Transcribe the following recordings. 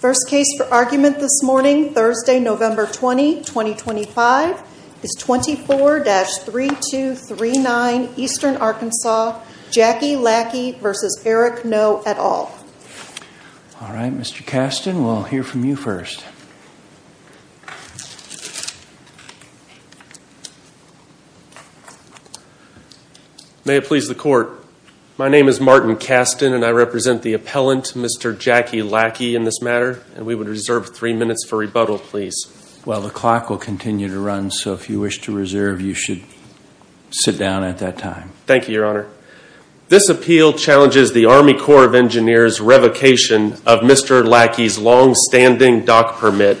First case for argument this morning, Thursday, November 20, 2025, is 24-3239 Eastern Arkansas, Jackie Lackie v. Eric Noe et al. All right, Mr. Kasten, we'll hear from you first. May it please the Court, my name is Martin Kasten, and I represent the appellant, Mr. Jackie Lackie, in this matter, and we would reserve three minutes for rebuttal, please. Well, the clock will continue to run, so if you wish to reserve, you should sit down at that time. Thank you, Your Honor. This appeal challenges the Army Corps of Engineers' revocation of Mr. Lackie's longstanding dock permit,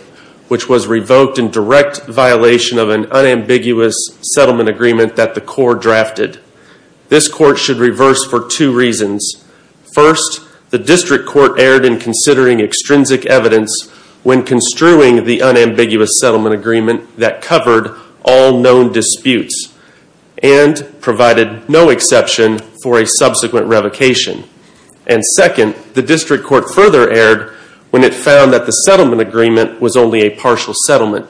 which was revoked in direct violation of an unambiguous settlement agreement that the Corps drafted. This Court should reverse for two reasons. First, the District Court erred in considering extrinsic evidence when construing the unambiguous settlement agreement that covered all known disputes and provided no exception for a subsequent revocation. And second, the District Court further erred when it found that the settlement agreement was only a partial settlement.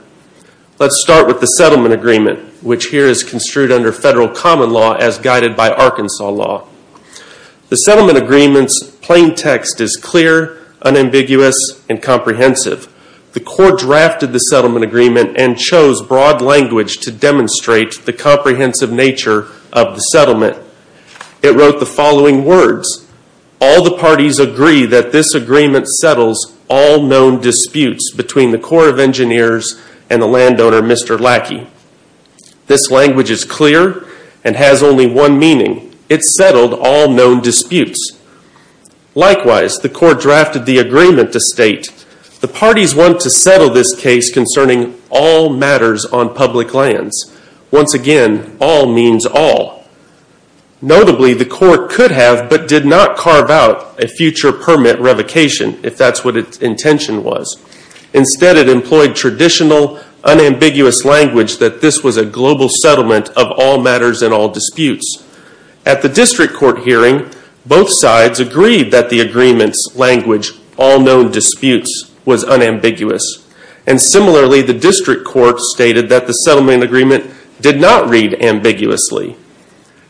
Let's start with the settlement agreement, which here is construed under federal common law as guided by Arkansas law. The settlement agreement's plain text is clear, unambiguous, and comprehensive. The Corps drafted the settlement agreement and chose broad language to demonstrate the comprehensive nature of the settlement. It wrote the following words, All the parties agree that this agreement settles all known disputes between the Corps of Engineers and the landowner, Mr. Lackie. This language is clear and has only one meaning. It settled all known disputes. Likewise, the Corps drafted the agreement to state, The parties want to settle this case concerning all matters on public lands. Once again, all means all. Notably, the Corps could have, but did not carve out, a future permit revocation, if that's what its intention was. Instead, it employed traditional, unambiguous language that this was a global settlement of all matters and all disputes. At the District Court hearing, both sides agreed that the agreement's language, all known disputes, was unambiguous. And similarly, the District Court stated that the settlement agreement did not read ambiguously.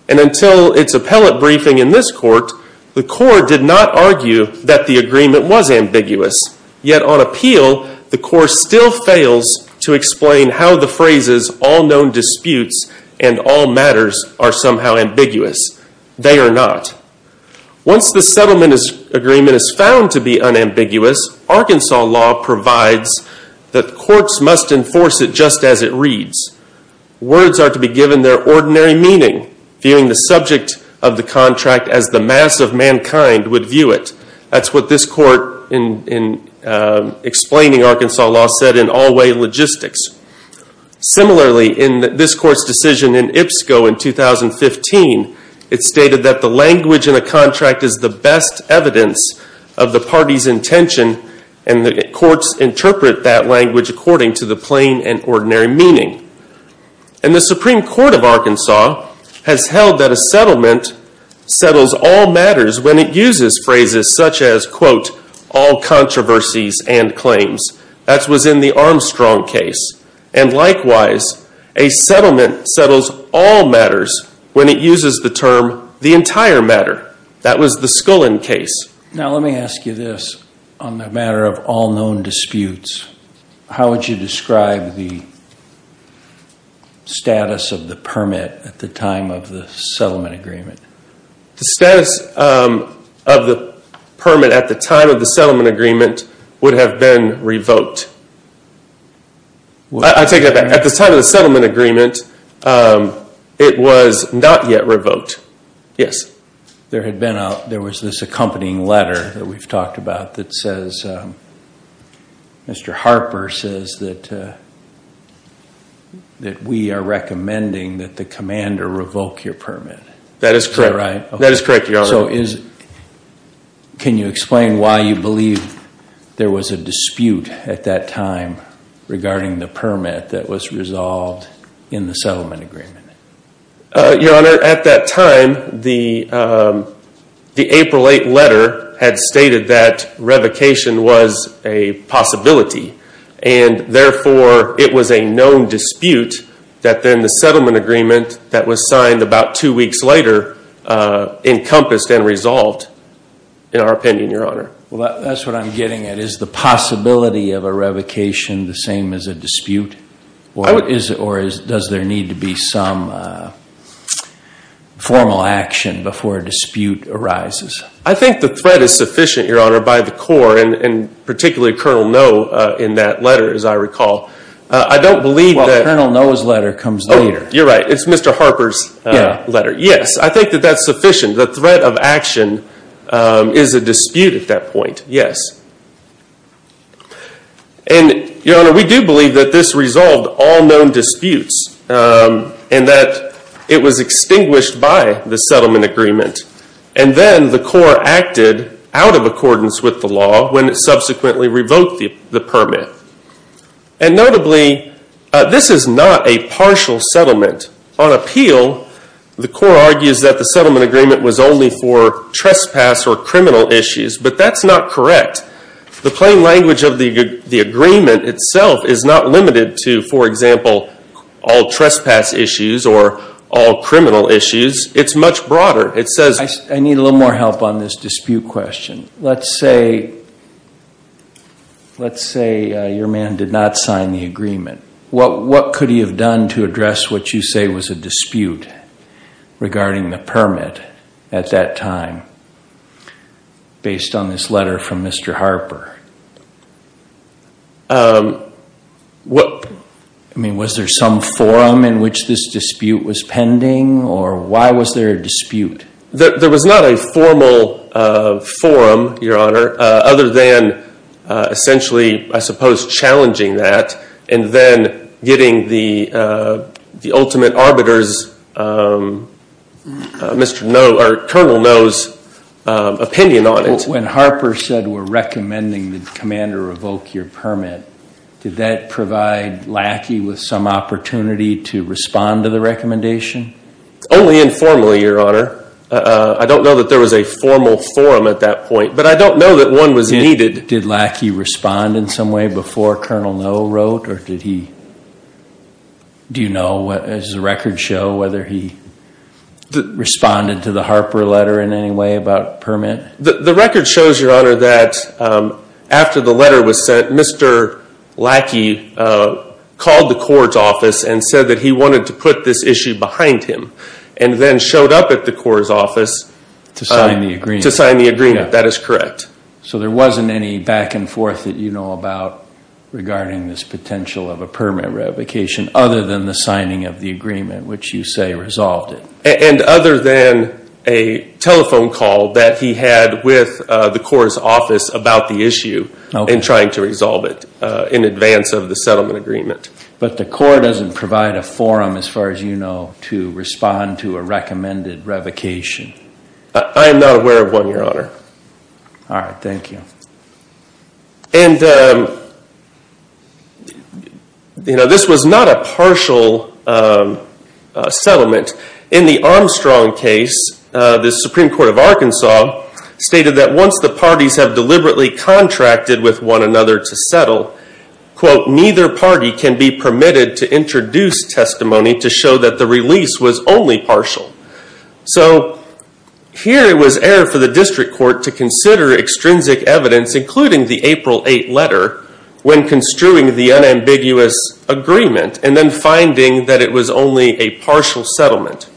And until its appellate briefing in this court, the Corps did not argue that the agreement was ambiguous. Yet on appeal, the Corps still fails to explain how the phrases, all known disputes, and all matters, are somehow ambiguous. They are not. Once the settlement agreement is found to be unambiguous, Arkansas law provides that courts must enforce it just as it reads. Words are to be given their ordinary meaning, viewing the subject of the contract as the mass of mankind would view it. That's what this court, in explaining Arkansas law, said in All Way Logistics. Similarly, in this court's decision in IPSCO in 2015, it stated that the language in a contract is the best evidence of the party's intention, and that courts interpret that language according to the plain and ordinary meaning. And the Supreme Court of Arkansas has held that a settlement settles all matters when it uses phrases such as, quote, all controversies and claims. That was in the Armstrong case. And likewise, a settlement settles all matters when it uses the term the entire matter. That was the Scullin case. Now, let me ask you this. On the matter of all known disputes, how would you describe the status of the permit at the time of the settlement agreement? The status of the permit at the time of the settlement agreement would have been revoked. I take it back. At the time of the settlement agreement, it was not yet revoked. Yes. There was this accompanying letter that we've talked about that says Mr. Harper says that we are recommending that the commander revoke your permit. That is correct. Is that right? That is correct, Your Honor. Can you explain why you believe there was a dispute at that time regarding the permit that was resolved in the settlement agreement? Your Honor, at that time, the April 8 letter had stated that revocation was a possibility. And therefore, it was a known dispute that then the settlement agreement that was signed about two weeks later encompassed and resolved, in our opinion, Your Honor. Well, that's what I'm getting at. Is the possibility of a revocation the same as a dispute? Or does there need to be some formal action before a dispute arises? I think the threat is sufficient, Your Honor, by the Corps and particularly Colonel Noe in that letter, as I recall. I don't believe that… Well, Colonel Noe's letter comes later. Oh, you're right. It's Mr. Harper's letter. Yes. I think that that's sufficient. The threat of action is a dispute at that point. Yes. And, Your Honor, we do believe that this resolved all known disputes and that it was extinguished by the settlement agreement. And then the Corps acted out of accordance with the law when it subsequently revoked the permit. And notably, this is not a partial settlement. On appeal, the Corps argues that the settlement agreement was only for trespass or criminal issues. But that's not correct. The plain language of the agreement itself is not limited to, for example, all trespass issues or all criminal issues. It's much broader. It says… I need a little more help on this dispute question. Let's say your man did not sign the agreement. What could he have done to address what you say was a dispute regarding the permit at that time based on this letter from Mr. Harper? I mean, was there some forum in which this dispute was pending, or why was there a dispute? There was not a formal forum, Your Honor, other than essentially, I suppose, challenging that. And then getting the ultimate arbiters, Colonel Noe's opinion on it. When Harper said we're recommending the commander revoke your permit, did that provide Lackey with some opportunity to respond to the recommendation? Only informally, Your Honor. I don't know that there was a formal forum at that point, but I don't know that one was needed. Did Lackey respond in some way before Colonel Noe wrote, or did he… Do you know, does the record show whether he responded to the Harper letter in any way about permit? The record shows, Your Honor, that after the letter was sent, Mr. Lackey called the Corps' office and said that he wanted to put this issue behind him, and then showed up at the Corps' office… To sign the agreement. To sign the agreement. That is correct. So there wasn't any back and forth that you know about regarding this potential of a permit revocation, other than the signing of the agreement, which you say resolved it. And other than a telephone call that he had with the Corps' office about the issue and trying to resolve it in advance of the settlement agreement. But the Corps doesn't provide a forum, as far as you know, to respond to a recommended revocation. I am not aware of one, Your Honor. All right. Thank you. And, you know, this was not a partial settlement. In the Armstrong case, the Supreme Court of Arkansas stated that once the parties have deliberately contracted with one another to settle, quote, neither party can be permitted to introduce testimony to show that the release was only partial. So here it was air for the district court to consider extrinsic evidence, including the April 8 letter, when construing the unambiguous agreement, and then finding that it was only a partial settlement.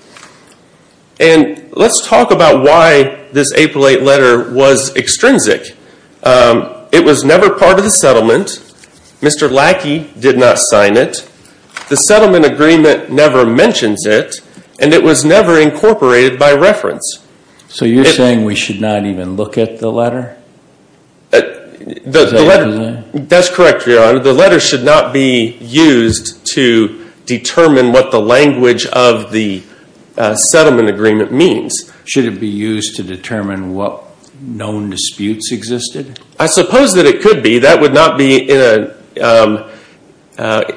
And let's talk about why this April 8 letter was extrinsic. It was never part of the settlement. Mr. Lackey did not sign it. The settlement agreement never mentions it. And it was never incorporated by reference. So you're saying we should not even look at the letter? That's correct, Your Honor. The letter should not be used to determine what the language of the settlement agreement means. Should it be used to determine what known disputes existed? I suppose that it could be. That would not be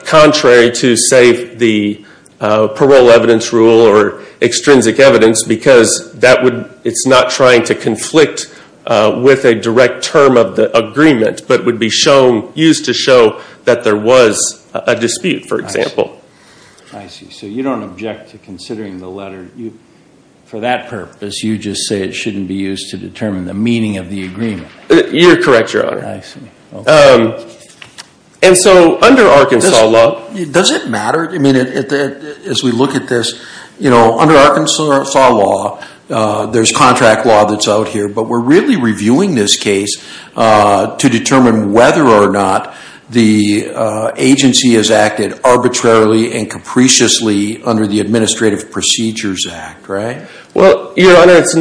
contrary to, say, the parole evidence rule or extrinsic evidence, because it's not trying to conflict with a direct term of the agreement, but would be used to show that there was a dispute, for example. I see. So you don't object to considering the letter. For that purpose, you just say it shouldn't be used to determine the meaning of the agreement. You're correct, Your Honor. I see. And so under Arkansas law, does it matter? I mean, as we look at this, under Arkansas law, there's contract law that's out here, but we're really reviewing this case to determine whether or not the agency has acted arbitrarily and capriciously under the Administrative Procedures Act, right? Well, Your Honor, it's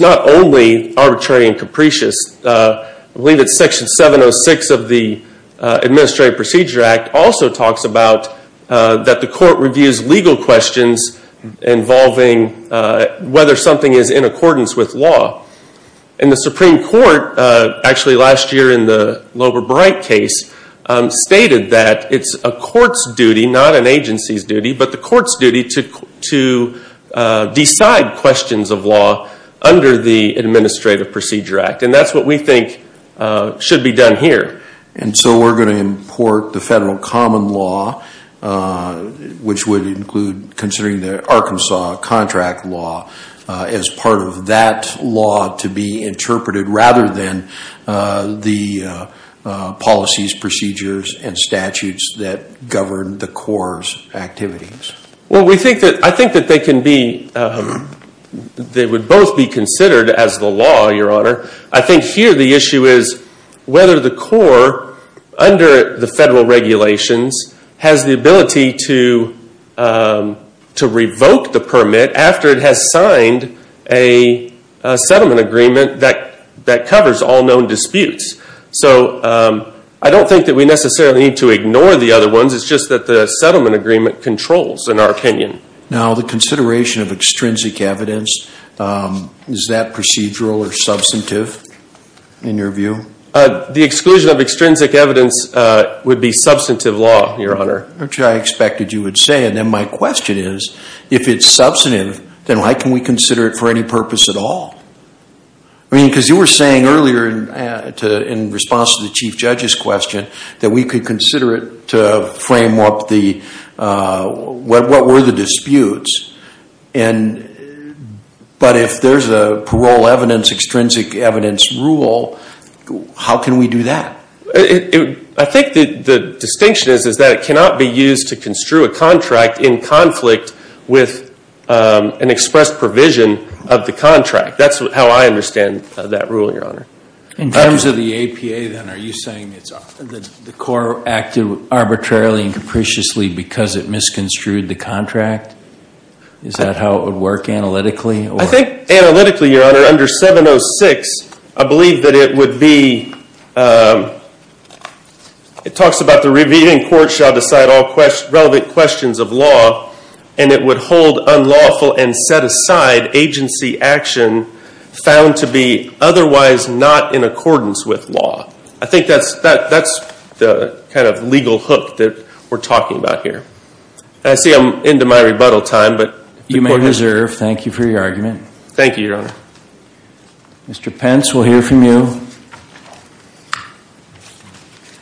not only arbitrary and capricious. I believe it's Section 706 of the Administrative Procedures Act also talks about that the court reviews legal questions involving whether something is in accordance with law. And the Supreme Court, actually last year in the Loeber-Bright case, stated that it's a court's duty, not an agency's duty, but the court's duty to decide questions of law under the Administrative Procedures Act. And that's what we think should be done here. And so we're going to import the federal common law, which would include considering the Arkansas contract law as part of that law to be interpreted, rather than the policies, procedures, and statutes that govern the Corps' activities. Well, I think that they would both be considered as the law, Your Honor. I think here the issue is whether the Corps, under the federal regulations, has the ability to revoke the permit after it has signed a settlement agreement that covers all known disputes. So I don't think that we necessarily need to ignore the other ones. It's just that the settlement agreement controls, in our opinion. Now, the consideration of extrinsic evidence, is that procedural or substantive in your view? The exclusion of extrinsic evidence would be substantive law, Your Honor. Which I expected you would say. And then my question is, if it's substantive, then why can we consider it for any purpose at all? I mean, because you were saying earlier, in response to the Chief Judge's question, that we could consider it to frame up what were the disputes. But if there's a parole evidence, extrinsic evidence rule, how can we do that? I think the distinction is that it cannot be used to construe a contract in conflict with an expressed provision of the contract. That's how I understand that rule, Your Honor. In terms of the APA, then, are you saying that the court acted arbitrarily and capriciously because it misconstrued the contract? Is that how it would work analytically? I think analytically, Your Honor, under 706, I believe that it would be, it talks about the reviewing court shall decide all relevant questions of law, and it would hold unlawful and set aside agency action found to be otherwise not in accordance with law. I think that's the kind of legal hook that we're talking about here. And I see I'm into my rebuttal time, but the court has... You may reserve. Thank you for your argument. Thank you, Your Honor. Mr. Pence, we'll hear from you.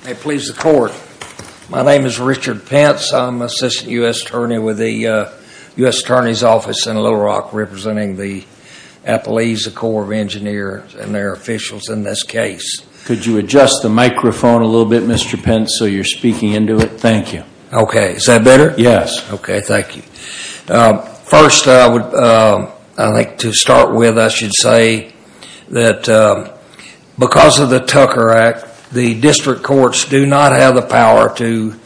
May it please the Court. My name is Richard Pence. I'm Assistant U.S. Attorney with the U.S. Attorney's Office in Little Rock, representing the Appalachia Corps of Engineers and their officials in this case. Could you adjust the microphone a little bit, Mr. Pence, so you're speaking into it? Thank you. Okay. Is that better? Yes. Okay. Thank you. First, I would, I think to start with, I should say that because of the Tucker Act, the district courts do not have the power to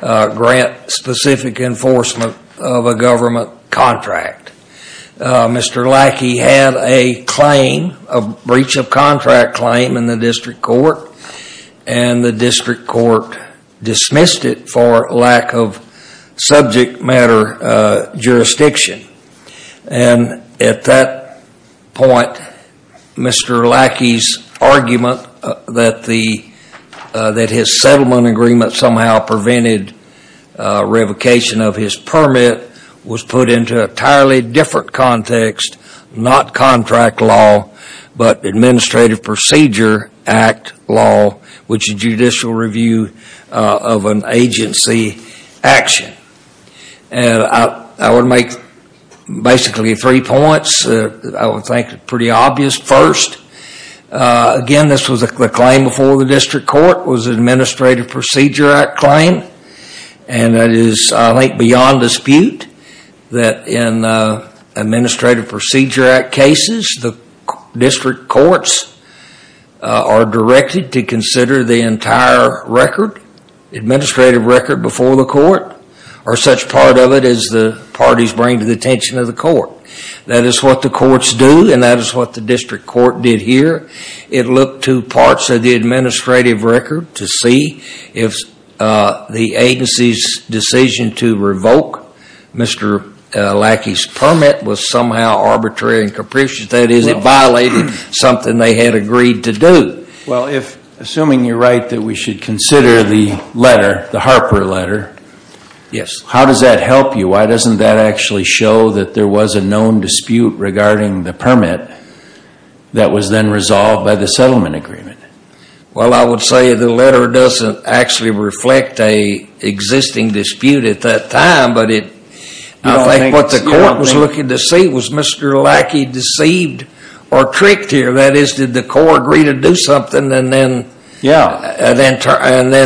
grant specific enforcement of a government contract. Mr. Lackey had a claim, a breach of contract claim in the district court, and the district court dismissed it for lack of subject matter jurisdiction. And at that point, Mr. Lackey's argument that his settlement agreement somehow prevented revocation of his permit was put into an entirely different context, not contract law, but Administrative Procedure Act law, which is judicial review of an agency action. And I would make basically three points that I would think are pretty obvious. First, again, this was a claim before the district court, was an Administrative Procedure Act claim, and that is, I think, beyond dispute that in Administrative Procedure Act cases, the district courts are directed to consider the entire record, administrative record before the court, or such part of it as the parties bring to the attention of the court. That is what the courts do, and that is what the district court did here. It looked to parts of the administrative record to see if the agency's decision to revoke Mr. Lackey's permit was somehow arbitrary and capricious. That is, it violated something they had agreed to do. Well, assuming you're right that we should consider the letter, the Harper letter, how does that help you? Why doesn't that actually show that there was a known dispute regarding the permit that was then resolved by the settlement agreement? Well, I would say the letter doesn't actually reflect an existing dispute at that time, but I think what the court was looking to see was Mr. Lackey deceived or tricked here. That is, did the court agree to do something and then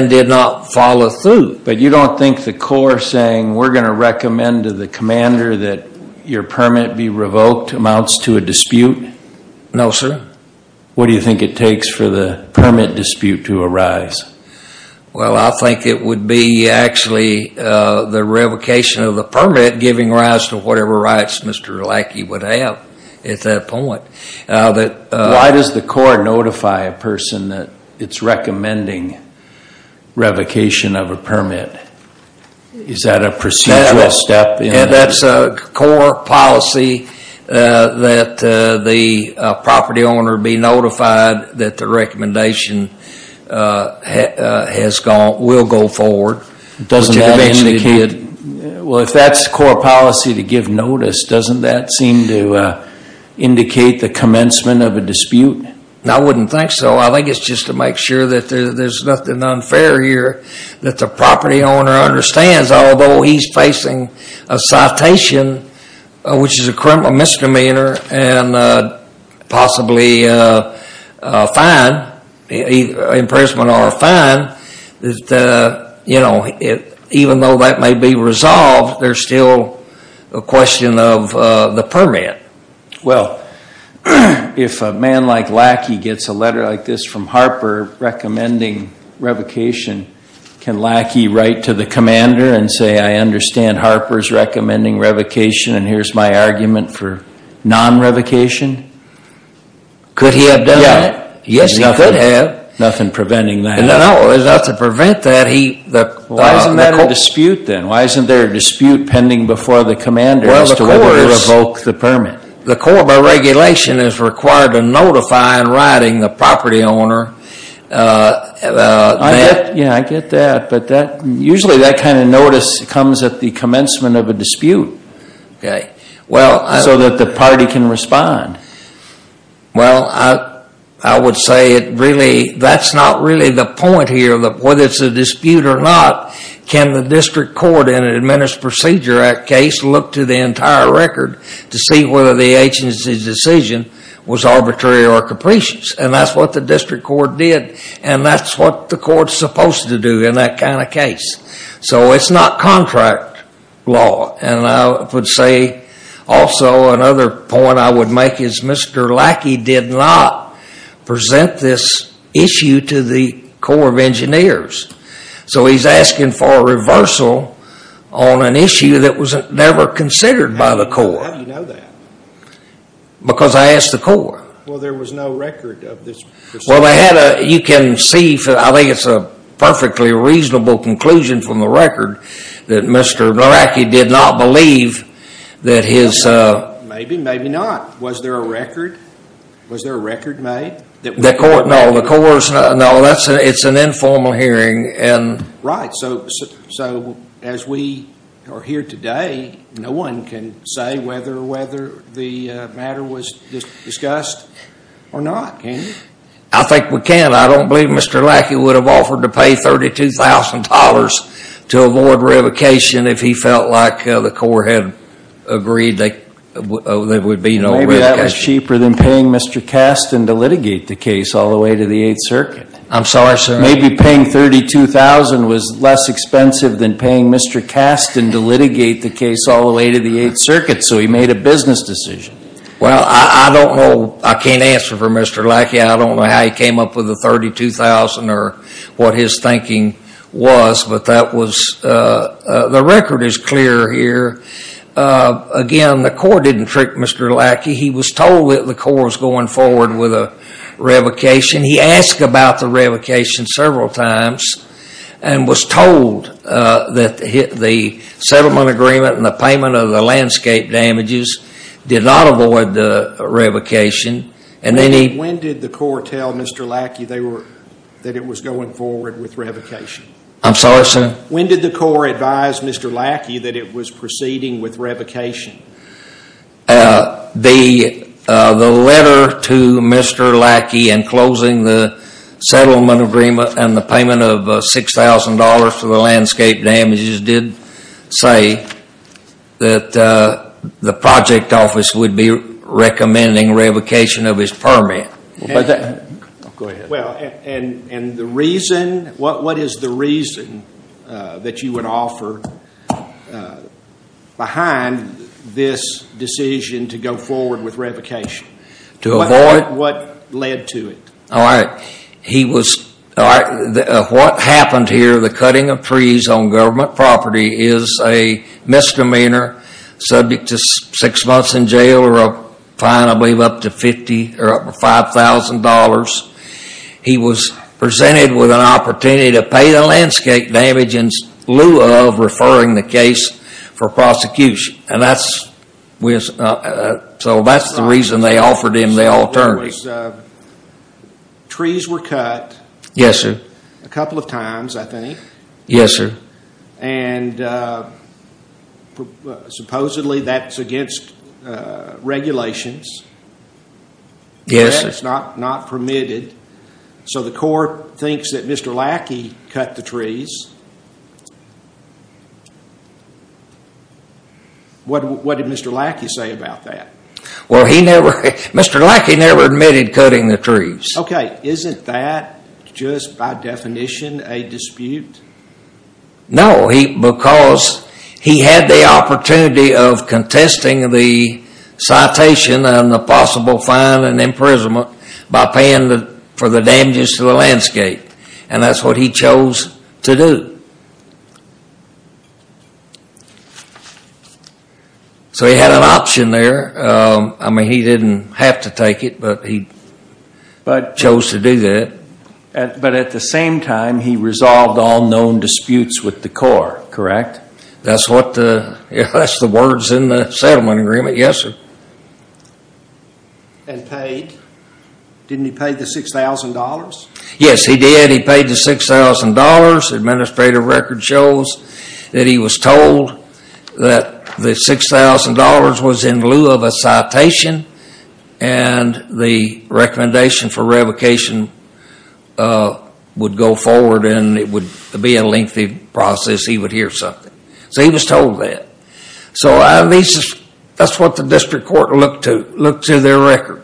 did not follow through? But you don't think the court saying we're going to recommend to the commander that your permit be revoked amounts to a dispute? No, sir. What do you think it takes for the permit dispute to arise? Well, I think it would be actually the revocation of the permit giving rise to whatever rights Mr. Lackey would have at that point. Why does the court notify a person that it's recommending revocation of a permit? Is that a procedural step? That's a core policy that the property owner be notified that the recommendation will go forward. Well, if that's core policy to give notice, doesn't that seem to indicate the commencement of a dispute? I wouldn't think so. I think it's just to make sure that there's nothing unfair here that the property owner understands, although he's facing a citation, which is a misdemeanor and possibly a fine, an imprisonment or a fine, that even though that may be resolved, there's still a question of the permit. Well, if a man like Lackey gets a letter like this from Harper recommending revocation, can Lackey write to the commander and say I understand Harper's recommending revocation and here's my argument for non-revocation? Could he have done that? Yes, he could have. Nothing preventing that? No, not to prevent that. Why isn't that a dispute then? Why isn't there a dispute pending before the commander as to whether to revoke the permit? The court by regulation is required to notify in writing the property owner. Yeah, I get that, but usually that kind of notice comes at the commencement of a dispute so that the party can respond. Well, I would say that's not really the point here. Whether it's a dispute or not, can the district court in an Administrative Procedure Act case look to the entire record to see whether the agency's decision was arbitrary or capricious? And that's what the district court did and that's what the court's supposed to do in that kind of case. So it's not contract law. And I would say also another point I would make is Mr. Lackey did not present this issue to the Corps of Engineers. So he's asking for a reversal on an issue that was never considered by the Corps. How do you know that? Because I asked the Corps. Well, there was no record of this. Well, you can see, I think it's a perfectly reasonable conclusion from the record that Mr. Lackey did not believe that his... Maybe, maybe not. Was there a record? Was there a record made? No, it's an informal hearing. Right, so as we are here today, no one can say whether or whether the matter was discussed or not, can you? I think we can. I don't believe Mr. Lackey would have offered to pay $32,000 to avoid revocation if he felt like the Corps had agreed there would be no revocation. Maybe that was cheaper than paying Mr. Kasten to litigate the case all the way to the 8th Circuit. I'm sorry, sir? Maybe paying $32,000 was less expensive than paying Mr. Kasten to litigate the case all the way to the 8th Circuit, so he made a business decision. Well, I don't know. I can't answer for Mr. Lackey. I don't know how he came up with the $32,000 or what his thinking was, but that was... The record is clear here. Again, the Corps didn't trick Mr. Lackey. He was told that the Corps was going forward with a revocation. He asked about the revocation several times and was told that the settlement agreement and the payment of the landscape damages did not avoid the revocation. When did the Corps tell Mr. Lackey that it was going forward with revocation? I'm sorry, sir? When did the Corps advise Mr. Lackey that it was proceeding with revocation? The letter to Mr. Lackey in closing the settlement agreement and the payment of $6,000 for the landscape damages did say that the project office would be recommending revocation of his permit. Go ahead. What is the reason that you would offer behind this decision to go forward with revocation? To avoid? What led to it? What happened here, the cutting of trees on government property, is a misdemeanor subject to six months in jail or a fine, I believe, up to $5,000. He was presented with an opportunity to pay the landscape damages in lieu of referring the case for prosecution. That's the reason they offered him the alternative. Trees were cut. Yes, sir. A couple of times, I think. Yes, sir. And supposedly that's against regulations. Yes, sir. That's not permitted. So the Corps thinks that Mr. Lackey cut the trees. What did Mr. Lackey say about that? Mr. Lackey never admitted cutting the trees. Okay, isn't that just by definition a dispute? No, because he had the opportunity of contesting the citation and the possible fine and imprisonment by paying for the damages to the landscape, and that's what he chose to do. So he had an option there. I mean, he didn't have to take it, but he chose to do that. But at the same time, he resolved all known disputes with the Corps, correct? That's the words in the settlement agreement, yes, sir. And paid. Didn't he pay the $6,000? Yes, he did. He paid the $6,000. Administrative record shows that he was told that the $6,000 was in lieu of a citation and the recommendation for revocation would go forward and it would be a lengthy process. He would hear something. So he was told that. So that's what the district court looked to, looked to their record.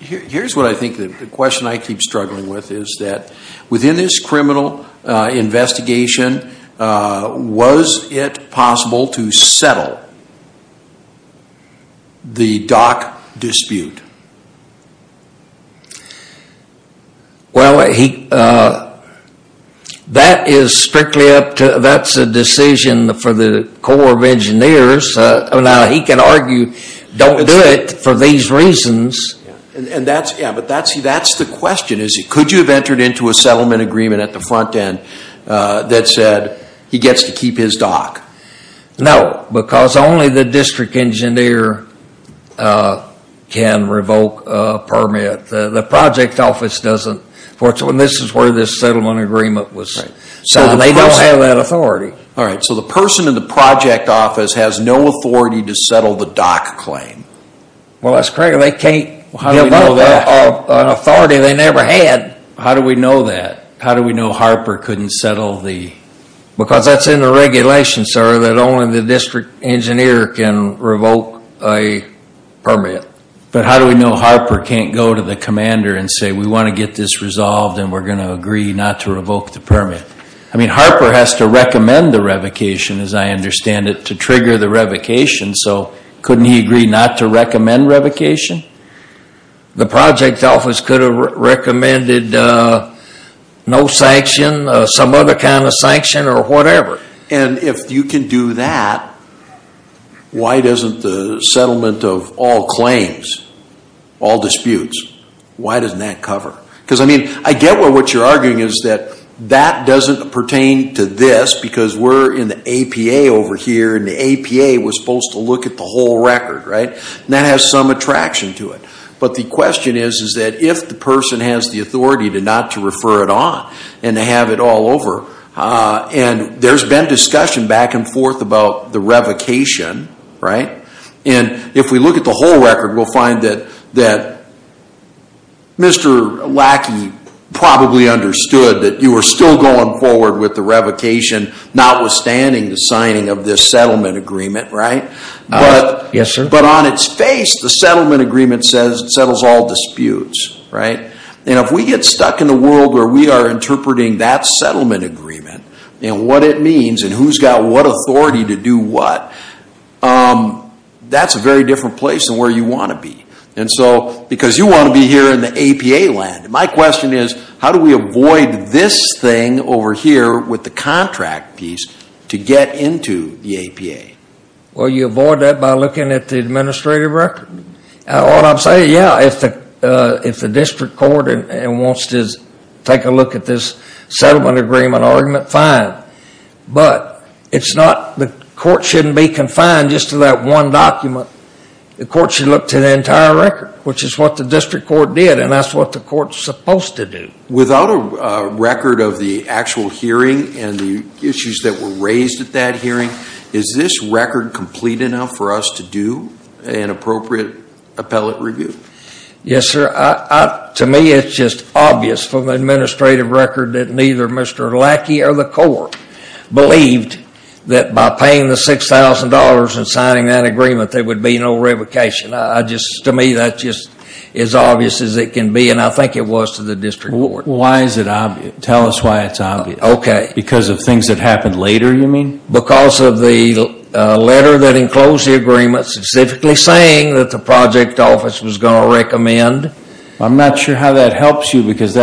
Here's what I think the question I keep struggling with is that within this criminal investigation, was it possible to settle the dock dispute? Well, that is strictly up to, that's a decision for the Corps of Engineers. Now, he can argue, don't do it for these reasons. Yeah, but that's the question. Could you have entered into a settlement agreement at the front end that said he gets to keep his dock? No, because only the district engineer can revoke a permit. The project office doesn't. This is where this settlement agreement was signed. They don't have that authority. All right, so the person in the project office has no authority to settle the dock claim. Well, that's correct. They can't give up an authority they never had. How do we know that? How do we know Harper couldn't settle the? Because that's in the regulation, sir, that only the district engineer can revoke a permit. But how do we know Harper can't go to the commander and say, we want to get this resolved and we're going to agree not to revoke the permit? I mean, Harper has to recommend the revocation, as I understand it, to trigger the revocation. So couldn't he agree not to recommend revocation? The project office could have recommended no sanction, some other kind of sanction or whatever. And if you can do that, why doesn't the settlement of all claims, all disputes, why doesn't that cover? Because, I mean, I get what you're arguing is that that doesn't pertain to this because we're in the APA over here and the APA was supposed to look at the whole record, right? And that has some attraction to it. But the question is, is that if the person has the authority to not to refer it on and to have it all over, and there's been discussion back and forth about the revocation, right? And if we look at the whole record, we'll find that Mr. Lackey probably understood that you were still going forward with the revocation, notwithstanding the signing of this settlement agreement, right? Yes, sir. But on its face, the settlement agreement says it settles all disputes, right? And if we get stuck in a world where we are interpreting that settlement agreement and what it means and who's got what authority to do what, that's a very different place than where you want to be. And so, because you want to be here in the APA land, my question is, how do we avoid this thing over here with the contract piece to get into the APA? Well, you avoid that by looking at the administrative record. All I'm saying, yeah, if the district court wants to take a look at this settlement agreement argument, fine. But the court shouldn't be confined just to that one document. The court should look to the entire record, which is what the district court did, and that's what the court's supposed to do. Without a record of the actual hearing and the issues that were raised at that hearing, is this record complete enough for us to do an appropriate appellate review? Yes, sir. To me, it's just obvious from the administrative record that neither Mr. Lackey or the court believed that by paying the $6,000 and signing that agreement, there would be no revocation. To me, that's just as obvious as it can be, and I think it was to the district court. Why is it obvious? Tell us why it's obvious. Okay. Because of things that happened later, you mean? Because of the letter that enclosed the agreement specifically saying that the project office was going to recommend. I'm not sure how that helps you, because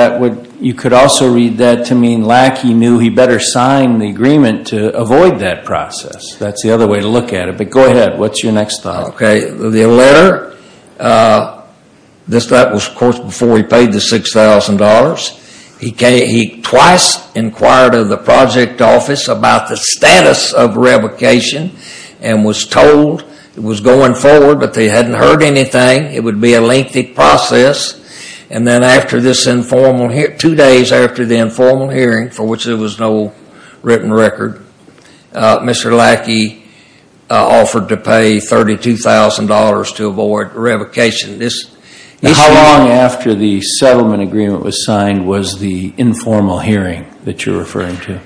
you could also read that to mean Lackey knew he better sign the agreement to avoid that process. That's the other way to look at it, but go ahead. What's your next thought? The letter, that was, of course, before he paid the $6,000. He twice inquired of the project office about the status of revocation and was told it was going forward, but they hadn't heard anything. It would be a lengthy process, and then after this informal hearing, two days after the informal hearing, for which there was no written record, Mr. Lackey offered to pay $32,000 to avoid revocation. How long after the settlement agreement was signed was the informal hearing that you're referring to? Do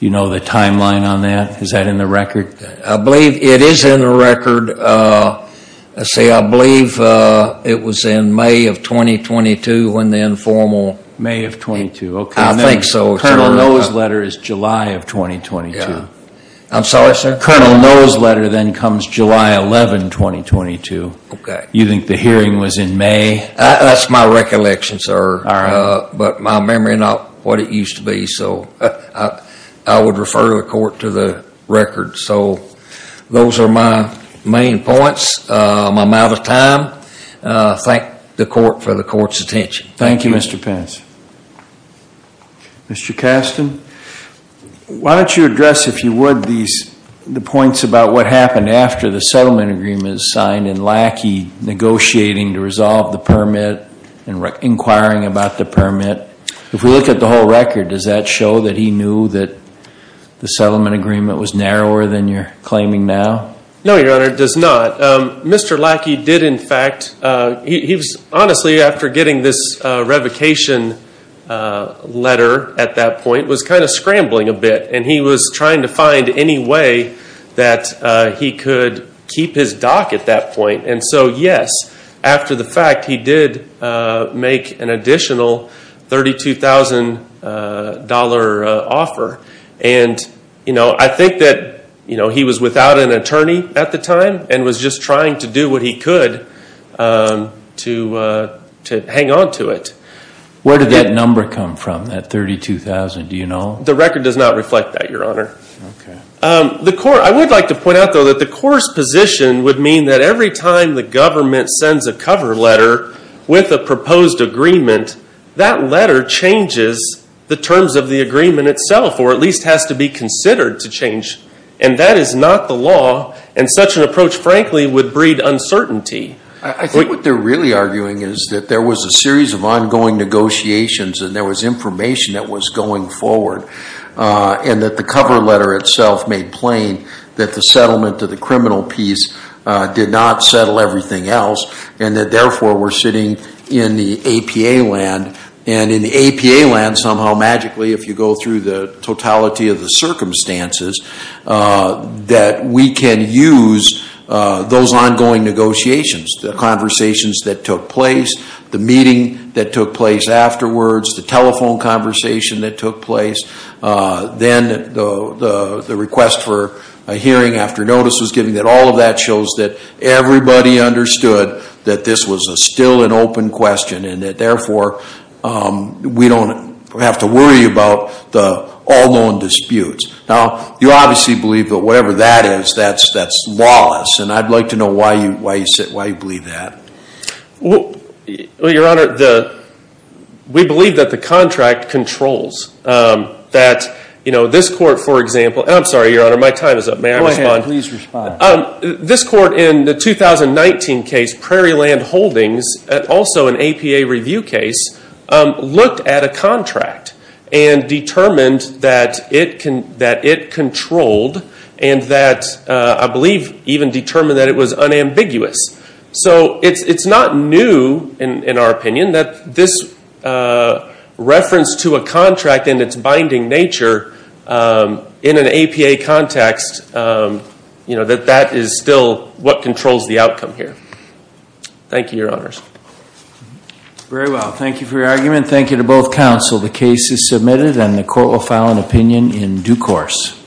you know the timeline on that? Is that in the record? I believe it is in the record. I believe it was in May of 2022 when the informal. May of 2022. I think so. Colonel Noe's letter is July of 2022. I'm sorry, sir? Colonel Noe's letter then comes July 11, 2022. Okay. You think the hearing was in May? That's my recollection, sir, but my memory is not what it used to be, so I would refer the court to the record. So those are my main points. I'm out of time. Thank the court for the court's attention. Thank you, Mr. Pence. Mr. Kasten, why don't you address, if you would, the points about what happened after the settlement agreement was signed and Lackey negotiating to resolve the permit and inquiring about the permit. If we look at the whole record, does that show that he knew that the settlement agreement was narrower than you're claiming now? No, Your Honor, it does not. Mr. Lackey did, in fact, he was honestly, after getting this revocation letter at that point, was kind of scrambling a bit and he was trying to find any way that he could keep his dock at that point. And so, yes, after the fact, he did make an additional $32,000 offer. And, you know, I think that, you know, he was without an attorney at the time and was just trying to do what he could to hang on to it. Where did that number come from, that $32,000, do you know? The record does not reflect that, Your Honor. Okay. I would like to point out, though, that the court's position would mean that every time the government sends a cover letter with a proposed agreement, that letter changes the terms of the agreement itself or at least has to be considered to change. And that is not the law and such an approach, frankly, would breed uncertainty. I think what they're really arguing is that there was a series of ongoing negotiations and there was information that was going forward and that the cover letter itself made plain that the settlement of the criminal piece did not settle everything else and that, therefore, we're sitting in the APA land. And in the APA land, somehow, magically, if you go through the totality of the circumstances, that we can use those ongoing negotiations, the conversations that took place, the meeting that took place afterwards, the telephone conversation that took place, then the request for a hearing after notice was given, that all of that shows that everybody understood that this was still an open question and that, therefore, we don't have to worry about the all-known disputes. Now, you obviously believe that whatever that is, that's lawless, and I'd like to know why you believe that. Well, Your Honor, we believe that the contract controls that this court, for example, and I'm sorry, Your Honor, my time is up. May I respond? Go ahead. Please respond. This court in the 2019 case, Prairieland Holdings, also an APA review case, looked at a contract and determined that it controlled and that, I believe, even determined that it was unambiguous. So it's not new, in our opinion, that this reference to a contract and its binding nature in an APA context, that that is still what controls the outcome here. Thank you, Your Honors. Very well. Thank you for your argument. Thank you to both counsel. The case is submitted and the court will file an opinion in due course.